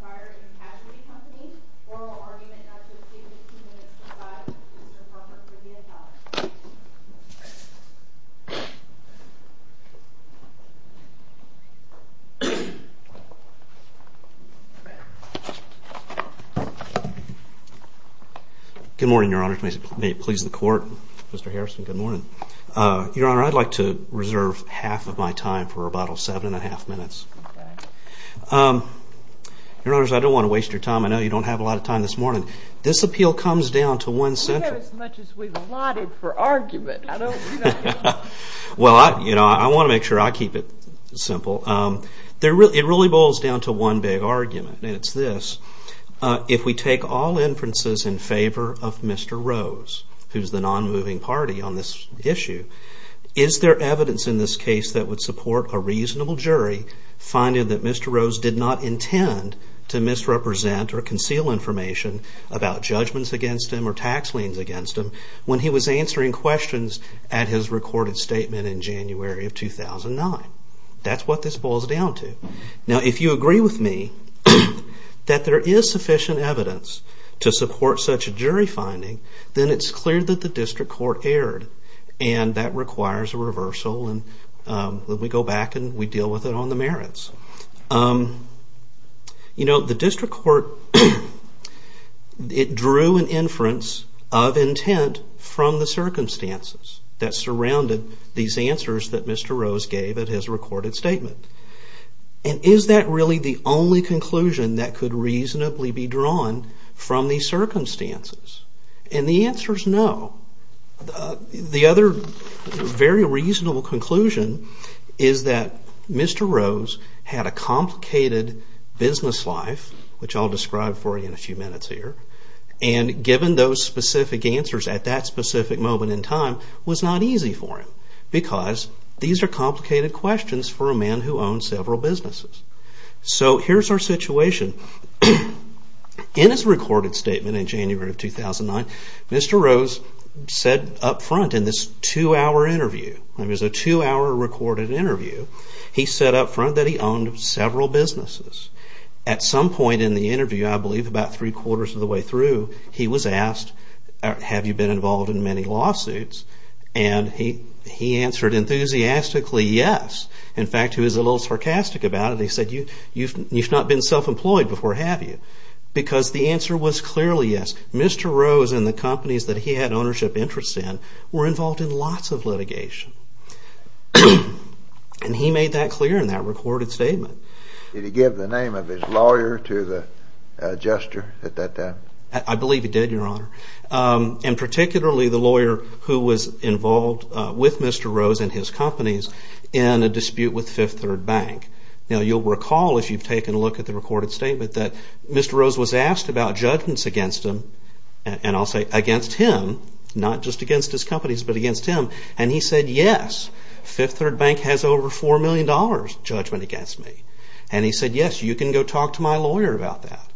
Fire and Casualty Company. Oral argument not to exceed 15 minutes to 5. Mr. Parker, please be adjourned. Good morning, Your Honor. May it please the Court. Mr. Harrison, good morning. Your Honor, I'd like to reserve half of my time for rebuttal. Seven and a half minutes. Your Honors, I don't want to waste your time. I know you don't have a lot of time this morning. This appeal comes down to one central... We have as much as we've allotted for argument. Well, I want to make sure I keep it simple. It really boils down to one big argument, and it's this. If we take all inferences in favor of Mr. Rose, who's the non-moving party on this issue, is there evidence in this case that would support a reasonable jury finding that Mr. Rose did not intend to misrepresent or conceal information about judgments against him or tax liens against him when he was answering questions at his recorded statement in January of 2009? That's what this boils down to. Now, if you agree with me that there is sufficient evidence to support such a jury finding, then it's clear that the district court erred, and that requires a reversal, and we go back and we deal with it on the merits. You know, the district court, it drew an inference of intent from the circumstances that surrounded these answers that Mr. Rose gave at his recorded statement. And is that really the only conclusion that could reasonably be drawn from these circumstances? And the answer is no. The other very reasonable conclusion is that Mr. Rose had a complicated business life, which I'll describe for you in a few minutes here, and given those specific answers at that specific moment in time was not easy for him because these are complicated questions for a man who owns several businesses. So here's our situation. In his recorded statement in January of 2009, Mr. Rose said up front in this two-hour interview, it was a two-hour recorded interview, he said up front that he owned several businesses. At some point in the interview, I believe about three-quarters of the way through, he was asked, have you been involved in many lawsuits? And he answered enthusiastically yes. In fact, he was a little sarcastic about it. He said, you've not been self-employed before, have you? Because the answer was clearly yes. Mr. Rose and the companies that he had ownership interest in were involved in lots of litigation. And he made that clear in that recorded statement. Did he give the name of his lawyer to the adjuster at that time? I believe he did, Your Honor. And particularly the lawyer who was involved with Mr. Rose and his companies in a dispute with Fifth Third Bank. Now you'll recall if you've taken a look at the recorded statement that Mr. Rose was asked about judgments against him, and I'll say against him, not just against his companies but against him, and he said, yes, Fifth Third Bank has over $4 million judgment against me. And he said, yes, you can go talk to my lawyer about that.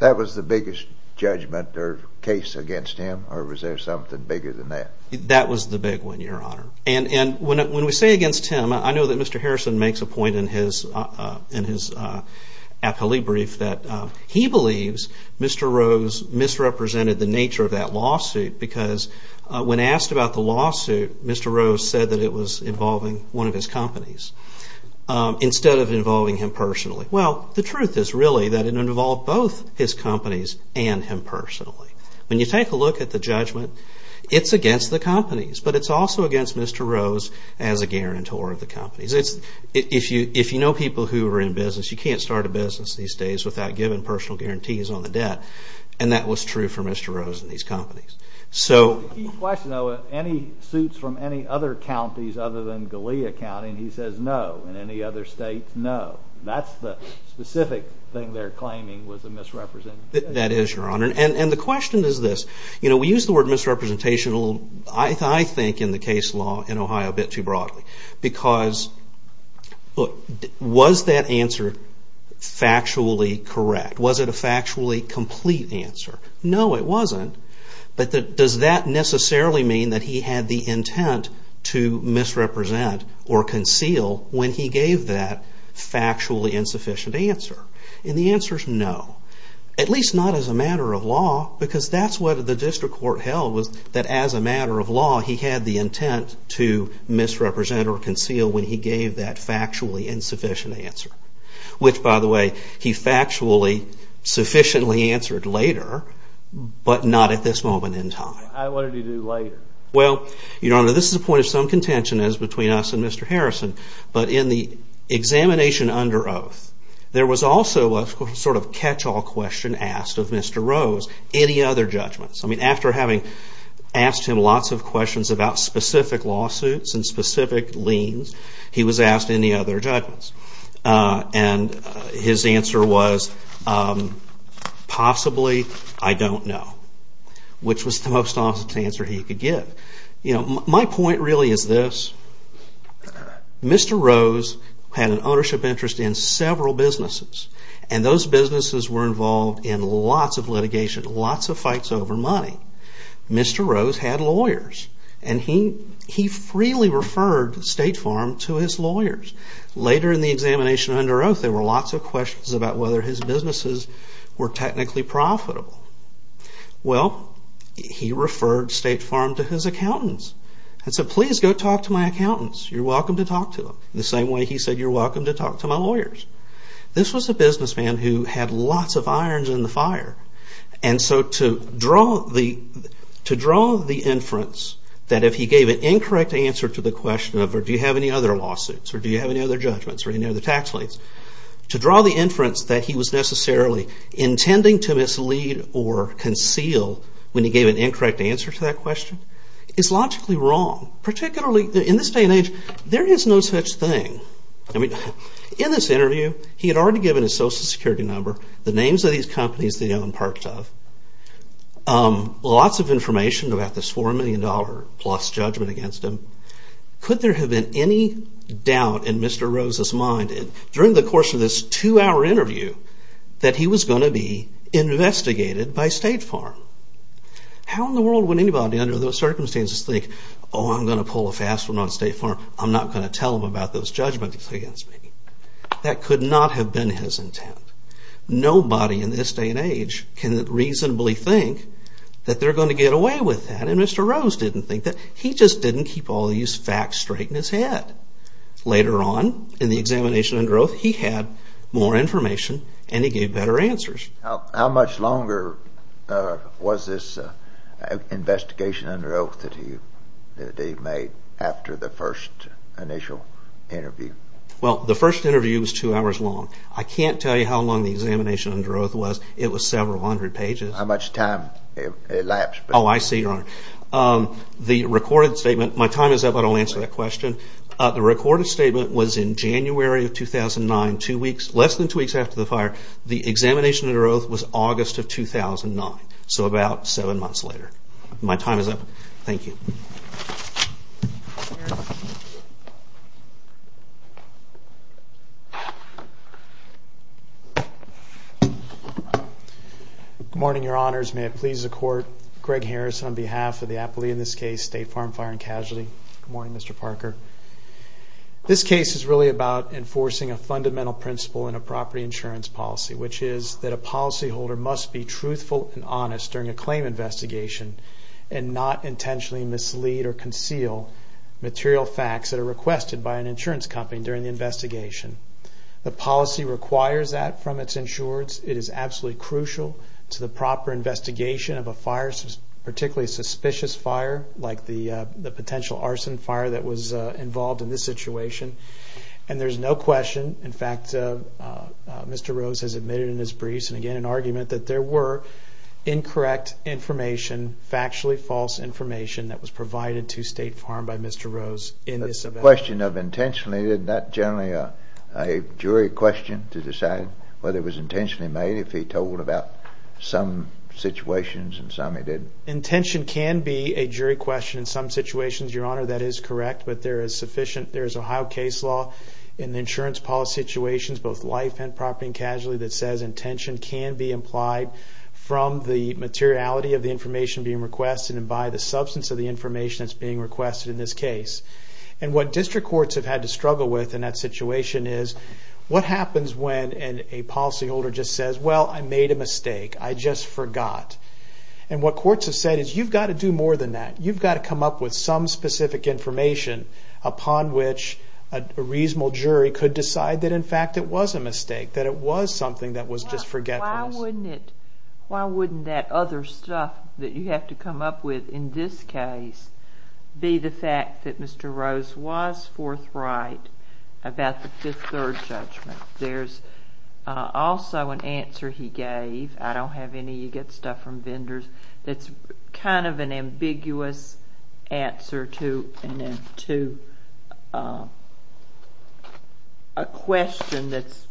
That was the biggest judgment or case against him, or was there something bigger than that? That was the big one, Your Honor. And when we say against him, I know that Mr. Harrison makes a point in his appellee brief that he believes Mr. Rose misrepresented the nature of that lawsuit because when asked about the lawsuit, Mr. Rose said that it was involving one of his companies instead of involving him personally. Well, the truth is really that it involved both his companies and him personally. When you take a look at the judgment, it's against the companies, but it's also against Mr. Rose as a guarantor of the companies. If you know people who are in business, you can't start a business these days without giving personal guarantees on the debt, and that was true for Mr. Rose and his companies. Any suits from any other counties other than Galea County, and he says no, and any other states, no. That's the specific thing they're claiming was a misrepresentation. That is, Your Honor. And the question is this. We use the word misrepresentation, I think, in the case law in Ohio a bit too broadly because was that answer factually correct? Was it a factually complete answer? No, it wasn't. But does that necessarily mean that he had the intent to misrepresent or conceal when he gave that factually insufficient answer? And the answer is no. At least not as a matter of law, because that's what the district court held, was that as a matter of law, he had the intent to misrepresent or conceal when he gave that factually insufficient answer, which, by the way, he factually sufficiently answered later, but not at this moment in time. What did he do later? Well, Your Honor, this is a point of some contention between us and Mr. Harrison, but in the examination under oath, there was also a sort of catch-all question asked of Mr. Rose, any other judgments. I mean, after having asked him lots of questions about specific lawsuits and specific liens, he was asked any other judgments, and his answer was, possibly, I don't know, which was the most honest answer he could give. My point really is this. Mr. Rose had an ownership interest in several businesses, and those businesses were involved in lots of litigation, lots of fights over money. Mr. Rose had lawyers, and he freely referred State Farm to his lawyers. Later in the examination under oath, there were lots of questions about whether his businesses were technically profitable. Well, he referred State Farm to his accountants and said, please go talk to my accountants. You're welcome to talk to them, the same way he said you're welcome to talk to my lawyers. This was a businessman who had lots of irons in the fire, and so to draw the inference that if he gave an incorrect answer to the question of, do you have any other lawsuits, or do you have any other judgments, or any other tax liens, to draw the inference that he was necessarily intending to mislead or conceal when he gave an incorrect answer to that question is logically wrong. Particularly in this day and age, there is no such thing. In this interview, he had already given his social security number, the names of these companies that he owned parts of, lots of information about this $4 million-plus judgment against him. Could there have been any doubt in Mr. Rose's mind during the course of this two-hour interview that he was going to be investigated by State Farm? How in the world would anybody under those circumstances think, oh, I'm going to pull a fast one on State Farm. I'm not going to tell them about those judgments against me. That could not have been his intent. Nobody in this day and age can reasonably think that they're going to get away with that, and Mr. Rose didn't think that. He just didn't keep all these facts straight in his head. Later on, in the examination under oath, he had more information, and he gave better answers. How much longer was this investigation under oath that he made after the first initial interview? Well, the first interview was two hours long. I can't tell you how long the examination under oath was. It was several hundred pages. How much time elapsed? Oh, I see, Your Honor. The recorded statement, my time is up, I don't answer that question. The recorded statement was in January of 2009, two weeks, less than two weeks after the fire. The examination under oath was August of 2009, so about seven months later. My time is up. Thank you. Good morning, Your Honors. May it please the Court, Greg Harris on behalf of the aptly, in this case, State Farm Fire and Casualty. Good morning, Mr. Parker. This case is really about enforcing a fundamental principle in a property insurance policy, which is that a policyholder must be truthful and honest during a claim investigation and not intentionally mislead or conceal material facts that are requested by an insurance company during the investigation. The policy requires that from its insurers. It is absolutely crucial to the proper investigation of a fire, particularly a suspicious fire like the potential arson fire that was involved in this situation. And there's no question, in fact, Mr. Rose has admitted in his briefs, and again in argument, that there were incorrect information, factually false information that was provided to State Farm by Mr. Rose in this event. The question of intentionally, isn't that generally a jury question to decide whether it was intentionally made, if he told about some situations and some he didn't? Intention can be a jury question in some situations, Your Honor, that is correct, but there is Ohio case law in the insurance policy situations, both life and property and casualty, that says intention can be implied from the materiality of the information being requested and by the substance of the information that's being requested in this case. And what district courts have had to struggle with in that situation is what happens when a policyholder just says, well, I made a mistake, I just forgot. And what courts have said is you've got to do more than that. You've got to come up with some specific information upon which a reasonable jury could decide that in fact it was a mistake, that it was something that was just forgetfulness. Why wouldn't that other stuff that you have to come up with in this case be the fact that Mr. Rose was forthright about the Fifth Third judgment? There's also an answer he gave, I don't have any, you get stuff from vendors, that's kind of an ambiguous answer to a question that's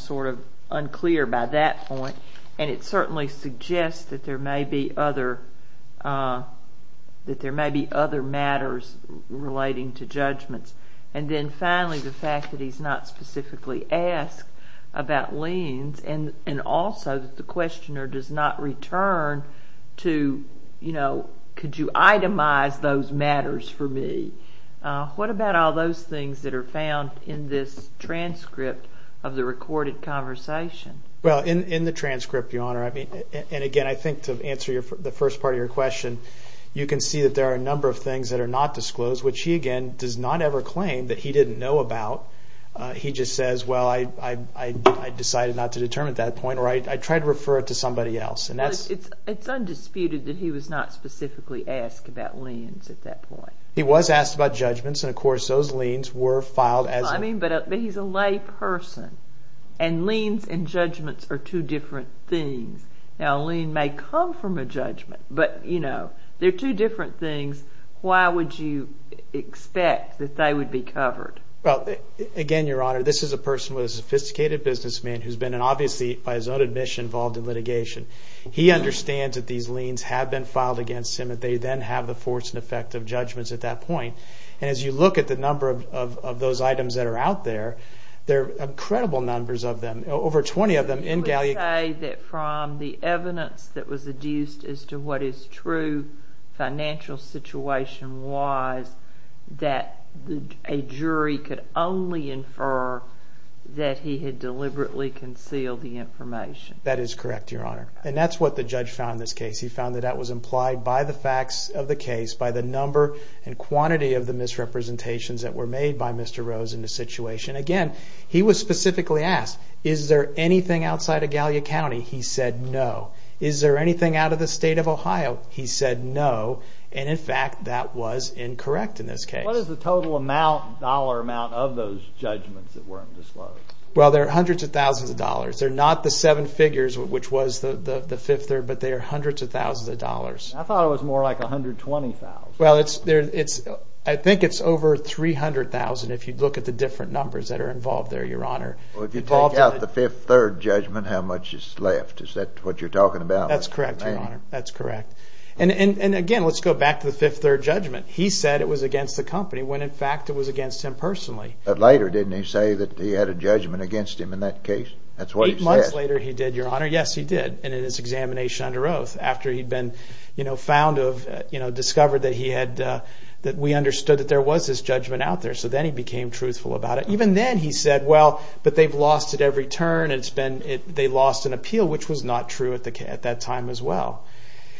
sort of unclear by that point, and it certainly suggests that there may be other matters relating to judgments. And then finally the fact that he's not specifically asked about liens and also that the questioner does not return to, you know, could you itemize those matters for me. What about all those things that are found in this transcript of the recorded conversation? Well, in the transcript, Your Honor, and again I think to answer the first part of your question, you can see that there are a number of things that are not disclosed, which he again does not ever claim that he didn't know about. He just says, well, I decided not to determine at that point, or I tried to refer it to somebody else. It's undisputed that he was not specifically asked about liens at that point. He was asked about judgments, and of course those liens were filed as a... Now, a lien may come from a judgment, but, you know, they're two different things. Why would you expect that they would be covered? Well, again, Your Honor, this is a person with a sophisticated businessman who's been obviously by his own admission involved in litigation. He understands that these liens have been filed against him and they then have the force and effect of judgments at that point, and as you look at the number of those items that are out there, there are incredible numbers of them. Over 20 of them in Galli... You would say that from the evidence that was adduced as to what his true financial situation was, that a jury could only infer that he had deliberately concealed the information. That is correct, Your Honor, and that's what the judge found in this case. He found that that was implied by the facts of the case, by the number and quantity of the misrepresentations that were made by Mr. Rose in the situation. Again, he was specifically asked, is there anything outside of Gallia County? He said no. Is there anything out of the state of Ohio? He said no, and in fact, that was incorrect in this case. What is the total amount, dollar amount, of those judgments that weren't disclosed? Well, there are hundreds of thousands of dollars. They're not the seven figures, which was the fifth there, but they are hundreds of thousands of dollars. I thought it was more like 120,000. Well, I think it's over 300,000 if you look at the different numbers that are involved there, Your Honor. Well, if you take out the fifth, third judgment, how much is left? Is that what you're talking about? That's correct, Your Honor, that's correct. And again, let's go back to the fifth, third judgment. He said it was against the company when, in fact, it was against him personally. But later, didn't he say that he had a judgment against him in that case? That's what he said. Eight months later, he did, Your Honor. Yes, he did, and in his examination under oath. After he'd been discovered that we understood that there was this judgment out there. So then he became truthful about it. Even then, he said, well, but they've lost it every turn. They lost an appeal, which was not true at that time as well.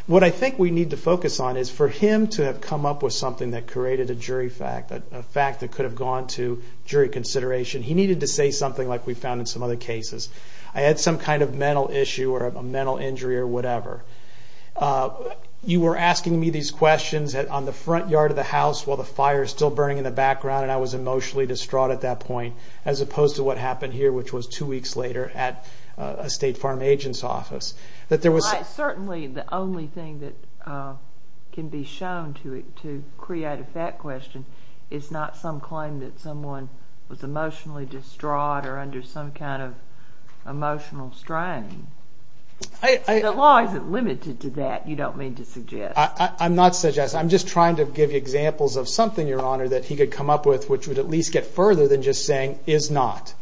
What I think we need to focus on is for him to have come up with something that created a jury fact, a fact that could have gone to jury consideration. He needed to say something like we found in some other cases. I had some kind of mental issue or a mental injury or whatever. You were asking me these questions on the front yard of the house while the fire was still burning in the background, and I was emotionally distraught at that point as opposed to what happened here, which was two weeks later at a state farm agent's office. Certainly, the only thing that can be shown to create a fact question is not some claim that someone was emotionally distraught or under some kind of emotional strain. The law isn't limited to that, you don't mean to suggest. I'm not suggesting. I'm just trying to give you examples of something, Your Honor, that he could come up with which would at least get further than just saying is not.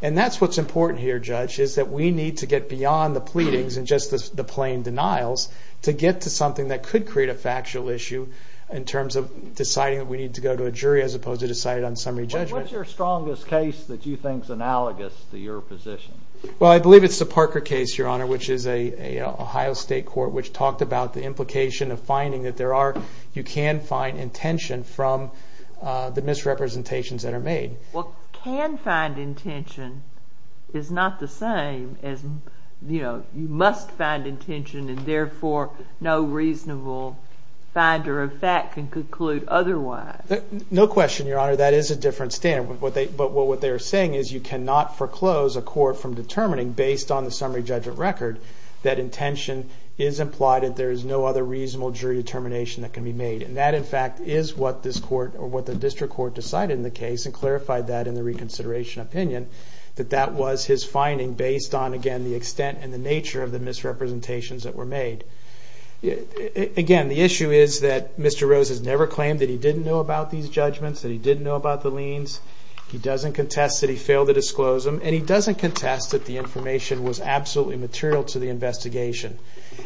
And that's what's important here, Judge, is that we need to get beyond the pleadings and just the plain denials to get to something that could create a factual issue in terms of deciding that we need to go to a jury as opposed to deciding on summary judgment. What's your strongest case that you think is analogous to your position? Well, I believe it's the Parker case, Your Honor, which is an Ohio State court which talked about the implication of finding that you can find intention from the misrepresentations that are made. Well, can find intention is not the same as you must find intention and therefore no reasonable finder of fact can conclude otherwise. No question, Your Honor, that is a different standard. But what they are saying is you cannot foreclose a court from determining based on the summary judgment record that intention is implied and there is no other reasonable jury determination that can be made. And that, in fact, is what the district court decided in the case and clarified that in the reconsideration opinion, that that was his finding based on, again, the extent and the nature of the misrepresentations that were made. Again, the issue is that Mr. Rose has never claimed that he didn't know about these judgments, that he didn't know about the liens. He doesn't contest that he failed to disclose them and he doesn't contest that the information was absolutely material to the investigation.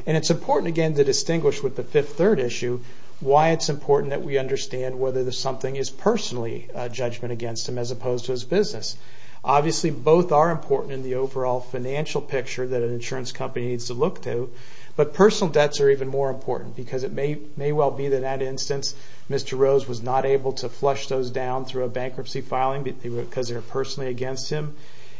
And it's important, again, to distinguish with the fifth third issue why it's important that we understand whether something is personally a judgment against him as opposed to his business. Obviously, both are important in the overall financial picture that an insurance company needs to look to. But personal debts are even more important because it may well be that in that instance, Mr. Rose was not able to flush those down through a bankruptcy filing because they were personally against him.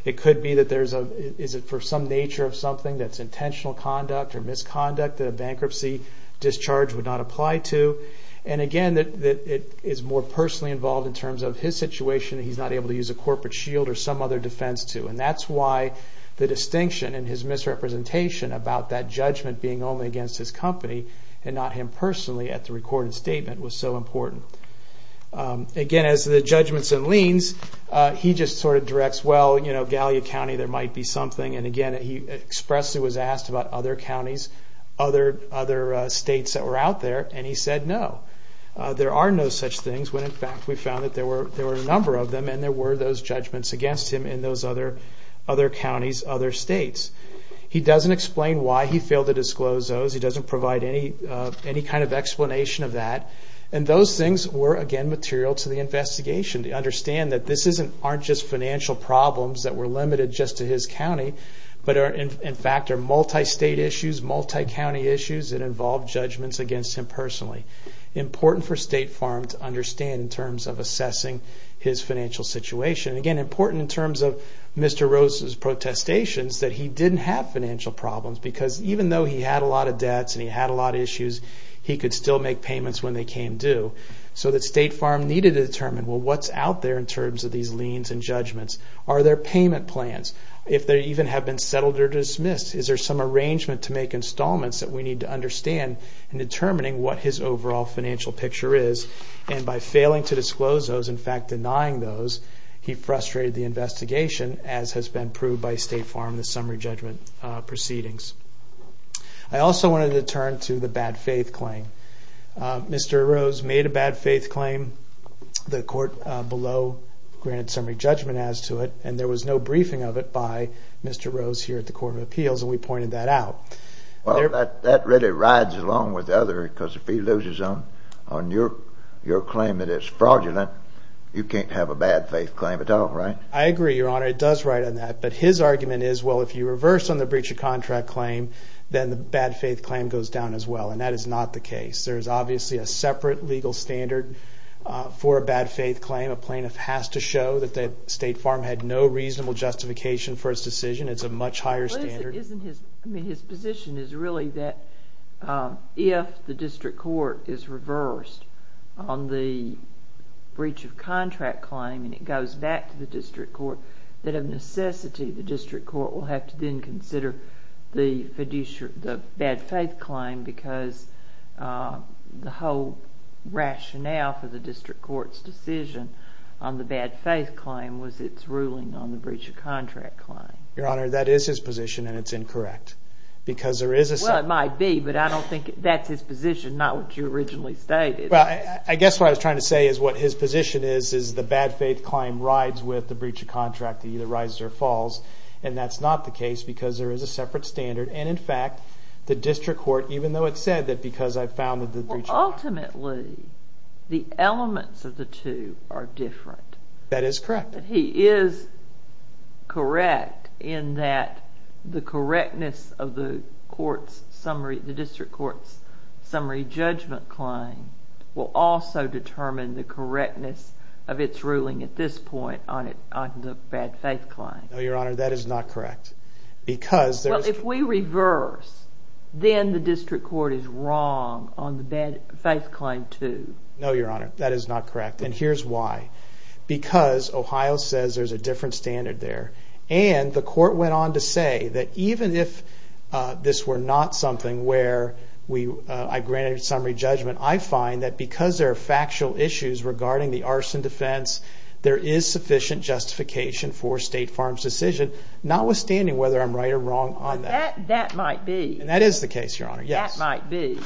It could be that there's a, is it for some nature of something that's intentional conduct or misconduct that a bankruptcy discharge would not apply to. And again, it is more personally involved in terms of his situation that he's not able to use a corporate shield or some other defense to. And that's why the distinction in his misrepresentation about that judgment being only against his company and not him personally at the recorded statement was so important. Again, as to the judgments and liens, he just sort of directs, well, you know, Gallia County, there might be something. And again, he expressly was asked about other counties, other states that were out there, and he said no. There are no such things when in fact we found that there were a number of them and there were those judgments against him in those other counties, other states. He doesn't explain why he failed to disclose those. He doesn't provide any kind of explanation of that. And those things were, again, material to the investigation to understand that this aren't just financial problems that were limited just to his county, but in fact are multi-state issues, multi-county issues that involved judgments against him personally. Important for State Farm to understand in terms of assessing his financial situation. Again, important in terms of Mr. Rose's protestations that he didn't have financial problems, because even though he had a lot of debts and he had a lot of issues, he could still make payments when they came due. So that State Farm needed to determine, well, what's out there in terms of these liens and judgments? Are there payment plans? If they even have been settled or dismissed, is there some arrangement to make installments that we need to understand in determining what his overall financial picture is? And by failing to disclose those, in fact denying those, he frustrated the investigation, as has been proved by State Farm in the summary judgment proceedings. I also wanted to turn to the bad faith claim. Mr. Rose made a bad faith claim. The court below granted summary judgment as to it, and there was no briefing of it by Mr. Rose here at the Court of Appeals, and we pointed that out. Well, that really rides along with the other, because if he loses on your claim that it's fraudulent, you can't have a bad faith claim at all, right? I agree, Your Honor. It does ride on that. But his argument is, well, if you reverse on the breach of contract claim, then the bad faith claim goes down as well, and that is not the case. There is obviously a separate legal standard for a bad faith claim. A plaintiff has to show that State Farm had no reasonable justification for its decision. It's a much higher standard. But isn't his position is really that if the district court is reversed on the breach of contract claim and it goes back to the district court, that of necessity the district court will have to then consider the bad faith claim because the whole rationale for the district court's decision on the bad faith claim was its ruling on the breach of contract claim. Your Honor, that is his position, and it's incorrect. Well, it might be, but I don't think that's his position, not what you originally stated. Well, I guess what I was trying to say is what his position is, is the bad faith claim rides with the breach of contract, either rises or falls, and that's not the case because there is a separate standard. And, in fact, the district court, even though it said that because I founded the breach of contract. Well, ultimately, the elements of the two are different. That is correct. He is correct in that the correctness of the court's summary, the district court's summary judgment claim will also determine the correctness of its ruling at this point on the bad faith claim. No, Your Honor, that is not correct. Well, if we reverse, then the district court is wrong on the bad faith claim, too. No, Your Honor, that is not correct, and here's why. Because Ohio says there's a different standard there, and the court went on to say that even if this were not something where I granted summary judgment, I find that because there are factual issues regarding the arson defense, there is sufficient justification for State Farm's decision, notwithstanding whether I'm right or wrong on that. That might be. And that is the case, Your Honor, yes. That might be.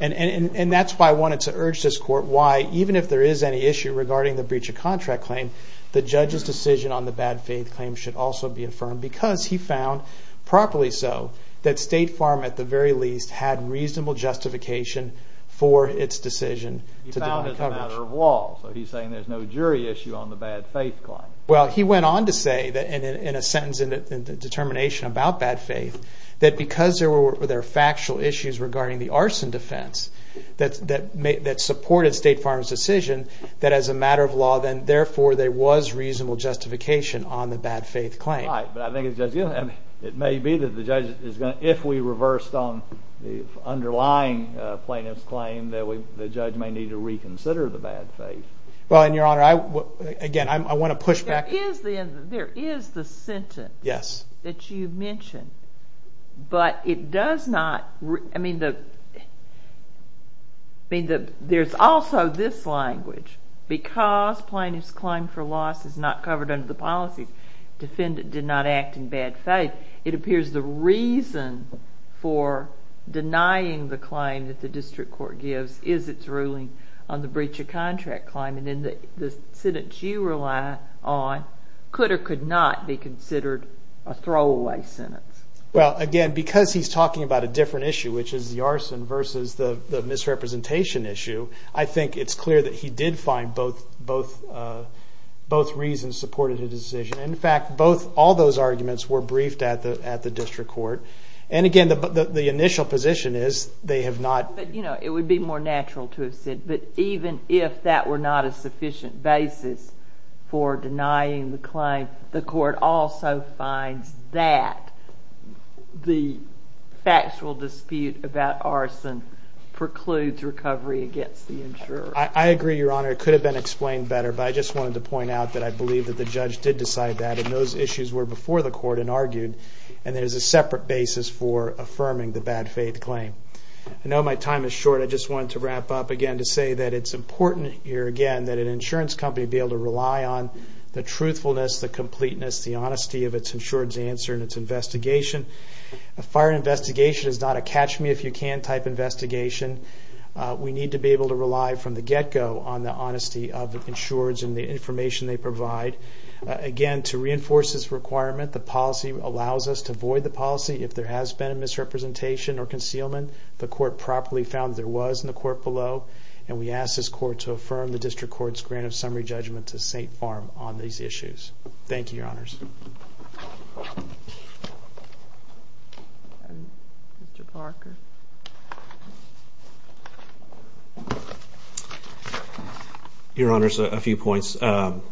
And that's why I wanted to urge this court why, even if there is any issue regarding the breach of contract claim, the judge's decision on the bad faith claim should also be affirmed. Because he found, properly so, that State Farm, at the very least, had reasonable justification for its decision. He found it a matter of law, so he's saying there's no jury issue on the bad faith claim. Well, he went on to say, in a sentence in the determination about bad faith, that because there were factual issues regarding the arson defense that supported State Farm's decision, that as a matter of law, then therefore there was reasonable justification on the bad faith claim. Right, but I think it may be that the judge is going to, if we reversed on the underlying plaintiff's claim, that the judge may need to reconsider the bad faith. Well, and Your Honor, again, I want to push back. There is the sentence that you mentioned, but it does not, I mean, there's also this language, because plaintiff's claim for loss is not covered under the policy, defendant did not act in bad faith, it appears the reason for denying the claim that the district court gives is its ruling on the breach of contract claim, and then the sentence you rely on could or could not be considered a throwaway sentence. Well, again, because he's talking about a different issue, which is the arson versus the misrepresentation issue, I think it's clear that he did find both reasons supported his decision. In fact, all those arguments were briefed at the district court, and again, the initial position is they have not... But, you know, it would be more natural to have said, but even if that were not a sufficient basis for denying the claim, the court also finds that the factual dispute about arson precludes recovery against the insurer. I agree, Your Honor. It could have been explained better, but I just wanted to point out that I believe that the judge did decide that, and those issues were before the court and argued, and there's a separate basis for affirming the bad faith claim. I know my time is short. I just wanted to wrap up again to say that it's important here, again, that an insurance company be able to rely on the truthfulness, the completeness, the honesty of its insurance answer and its investigation. A fire investigation is not a catch-me-if-you-can type investigation. We need to be able to rely from the get-go on the honesty of the insurers and the information they provide. Again, to reinforce this requirement, the policy allows us to void the policy if there has been a misrepresentation or concealment. The court properly found there was in the court below, and we ask this court to affirm the district court's grant of summary judgment to St. Farm on these issues. Thank you, Your Honors. Your Honors, a few points. On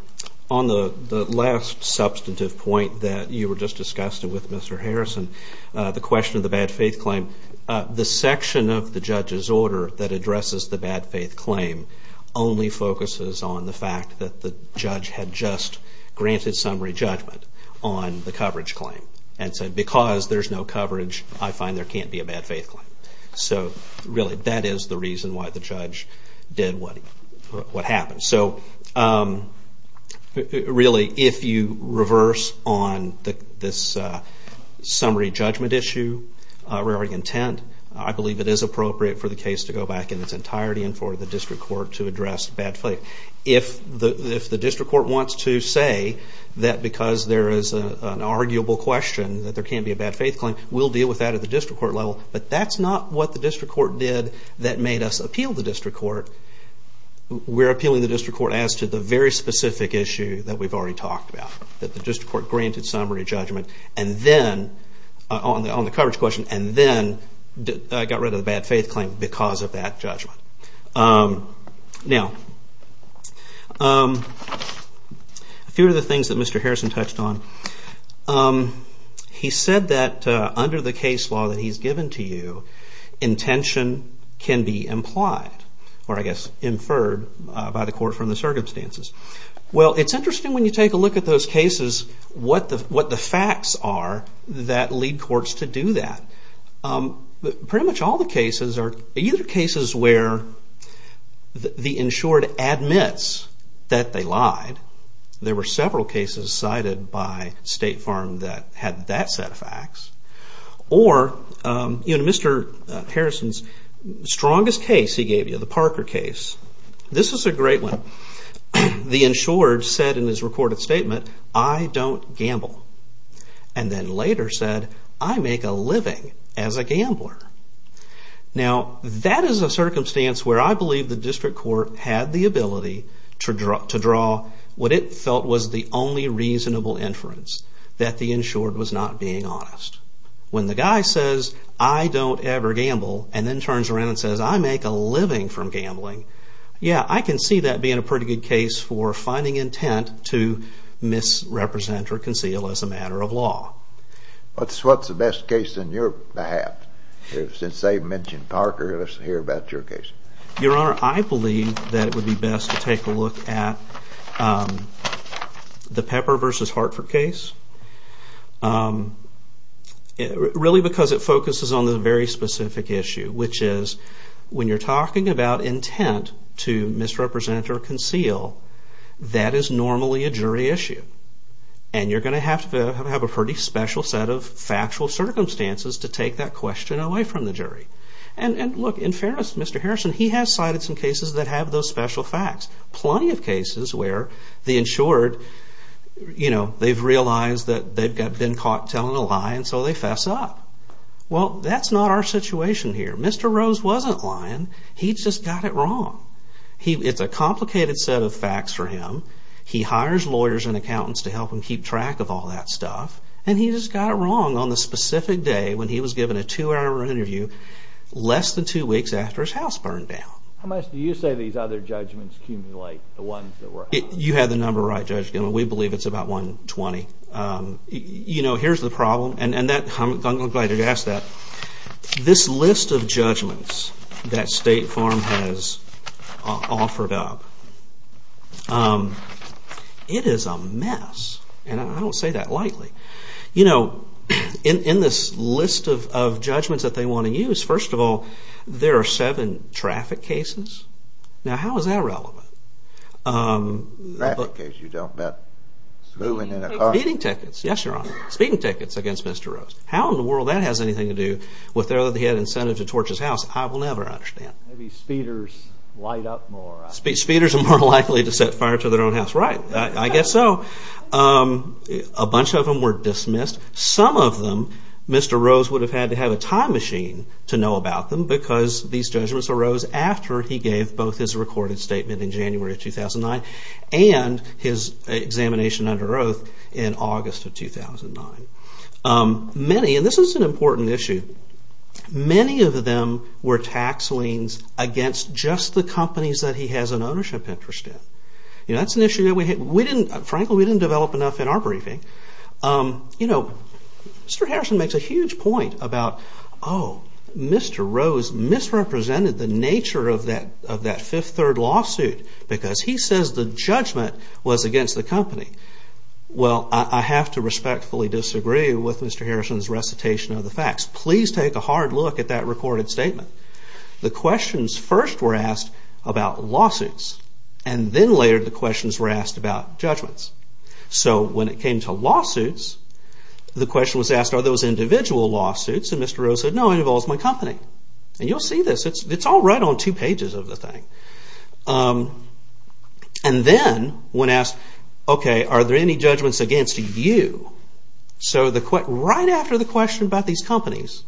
the last substantive point that you were just discussing with Mr. Harrison, the question of the bad faith claim, the section of the judge's order that addresses the bad faith claim only focuses on the fact that the judge had just granted summary judgment on the coverage claim and said because there's no coverage, I find there can't be a bad faith claim. So, really, that is the reason why the judge did what happened. So, really, if you reverse on this summary judgment issue, we're already content. I believe it is appropriate for the case to go back in its entirety and for the district court to address bad faith. If the district court wants to say that because there is an arguable question that there can't be a bad faith claim, we'll deal with that at the district court level, but that's not what the district court did that made us appeal the district court. We're appealing the district court as to the very specific issue that we've already talked about, that the district court granted summary judgment on the coverage question and then got rid of the bad faith claim because of that judgment. Now, a few of the things that Mr. Harrison touched on. He said that under the case law that he's given to you, intention can be implied or, I guess, inferred by the court from the circumstances. Well, it's interesting when you take a look at those cases, what the facts are that lead courts to do that. Pretty much all the cases are either cases where the insured admits that they lied, there were several cases cited by State Farm that had that set of facts, or Mr. Harrison's strongest case he gave you, the Parker case. This is a great one. The insured said in his recorded statement, I don't gamble. And then later said, I make a living as a gambler. Now, that is a circumstance where I believe the district court had the ability to draw what it felt was the only reasonable inference, that the insured was not being honest. When the guy says, I don't ever gamble, and then turns around and says, I make a living from gambling, yeah, I can see that being a pretty good case for finding intent to misrepresent or conceal as a matter of law. What's the best case on your behalf? Since they've mentioned Parker, let's hear about your case. Your Honor, I believe that it would be best to take a look at the Pepper v. Hartford case, really because it focuses on the very specific issue, which is when you're talking about intent to misrepresent or conceal, that is normally a jury issue. And you're going to have to have a pretty special set of factual circumstances to take that question away from the jury. And look, in fairness to Mr. Harrison, he has cited some cases that have those special facts. Plenty of cases where the insured, you know, they've realized that they've been caught telling a lie and so they fess up. Well, that's not our situation here. Mr. Rose wasn't lying. He just got it wrong. It's a complicated set of facts for him. He hires lawyers and accountants to help him keep track of all that stuff, and he just got it wrong on the specific day when he was given a two-hour interview, less than two weeks after his house burned down. How much do you say these other judgments accumulate, the ones that were out? You had the number right, Judge Gilman. We believe it's about 120. You know, here's the problem. And I'm glad you asked that. This list of judgments that State Farm has offered up, it is a mess. And I don't say that lightly. You know, in this list of judgments that they want to use, first of all, there are seven traffic cases. Now, how is that relevant? Traffic cases you don't meant? Speeding tickets. Yes, Your Honor. Speeding tickets against Mr. Rose. How in the world that has anything to do with the fact that he had incentives to torch his house, I will never understand. Maybe speeders light up more. Speeders are more likely to set fire to their own house. Right. I guess so. A bunch of them were dismissed. Some of them Mr. Rose would have had to have a time machine to know about them because these judgments arose after he gave both his recorded statement in January of 2009 and his examination under oath in August of 2009. Many, and this is an important issue, many of them were tax liens against just the companies that he has an ownership interest in. You know, that's an issue that we didn't, frankly, we didn't develop enough in our briefing. You know, Mr. Harrison makes a huge point about, oh, Mr. Rose misrepresented the nature of that fifth third lawsuit because he says the judgment was against the company. Well, I have to respectfully disagree with Mr. Harrison's recitation of the facts. Please take a hard look at that recorded statement. The questions first were asked about lawsuits and then later the questions were asked about judgments. So when it came to lawsuits, the question was asked are those individual lawsuits and Mr. Rose said, no, it involves my company. And you'll see this. It's all right on two pages of the thing. And then when asked, okay, are there any judgments against you? So right after the question about these companies,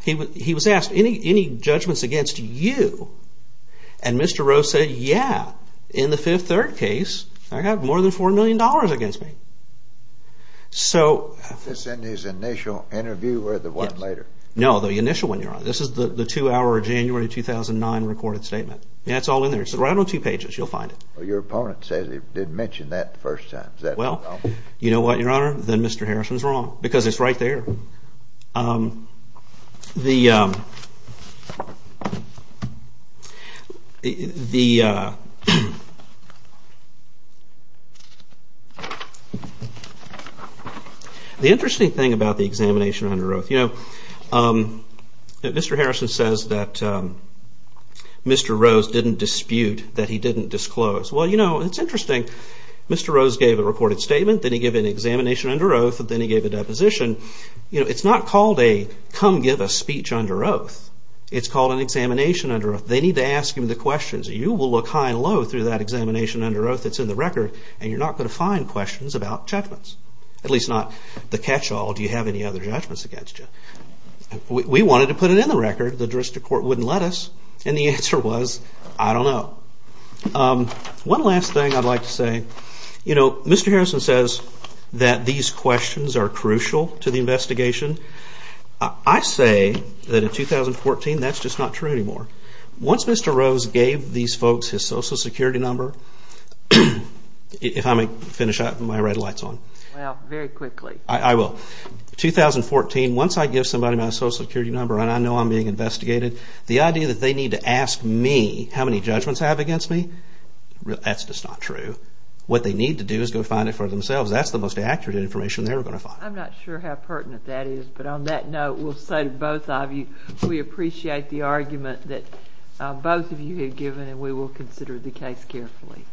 he was asked, any judgments against you? And Mr. Rose said, yeah, in the fifth third case, I have more than $4 million against me. So. Is this in his initial interview or the one later? No, the initial one, Your Honor. This is the two-hour January 2009 recorded statement. Yeah, it's all in there. It's right on two pages. You'll find it. Well, your opponent says he did mention that the first time. Is that wrong? Well, you know what, Your Honor? Then Mr. Harrison's wrong because it's right there. The interesting thing about the examination under oath, you know, Mr. Harrison says that Mr. Rose didn't dispute, that he didn't disclose. Well, you know, it's interesting. Mr. Rose gave a reported statement, then he gave an examination under oath, and then he gave a deposition. You know, it's not called a come give a speech under oath. It's called an examination under oath. They need to ask him the questions. You will look high and low through that examination under oath that's in the record, and you're not going to find questions about judgments. At least not the catch-all, do you have any other judgments against you? We wanted to put it in the record. The juristic court wouldn't let us, and the answer was, I don't know. One last thing I'd like to say. You know, Mr. Harrison says that these questions are crucial to the investigation. I say that in 2014, that's just not true anymore. Once Mr. Rose gave these folks his social security number, If I may finish up, my red light's on. Well, very quickly. I will. 2014, once I give somebody my social security number, and I know I'm being investigated, the idea that they need to ask me how many judgments I have against me, that's just not true. What they need to do is go find it for themselves. That's the most accurate information they're going to find. I'm not sure how pertinent that is, but on that note, we'll say to both of you, we appreciate the argument that both of you have given, and we will consider the case carefully.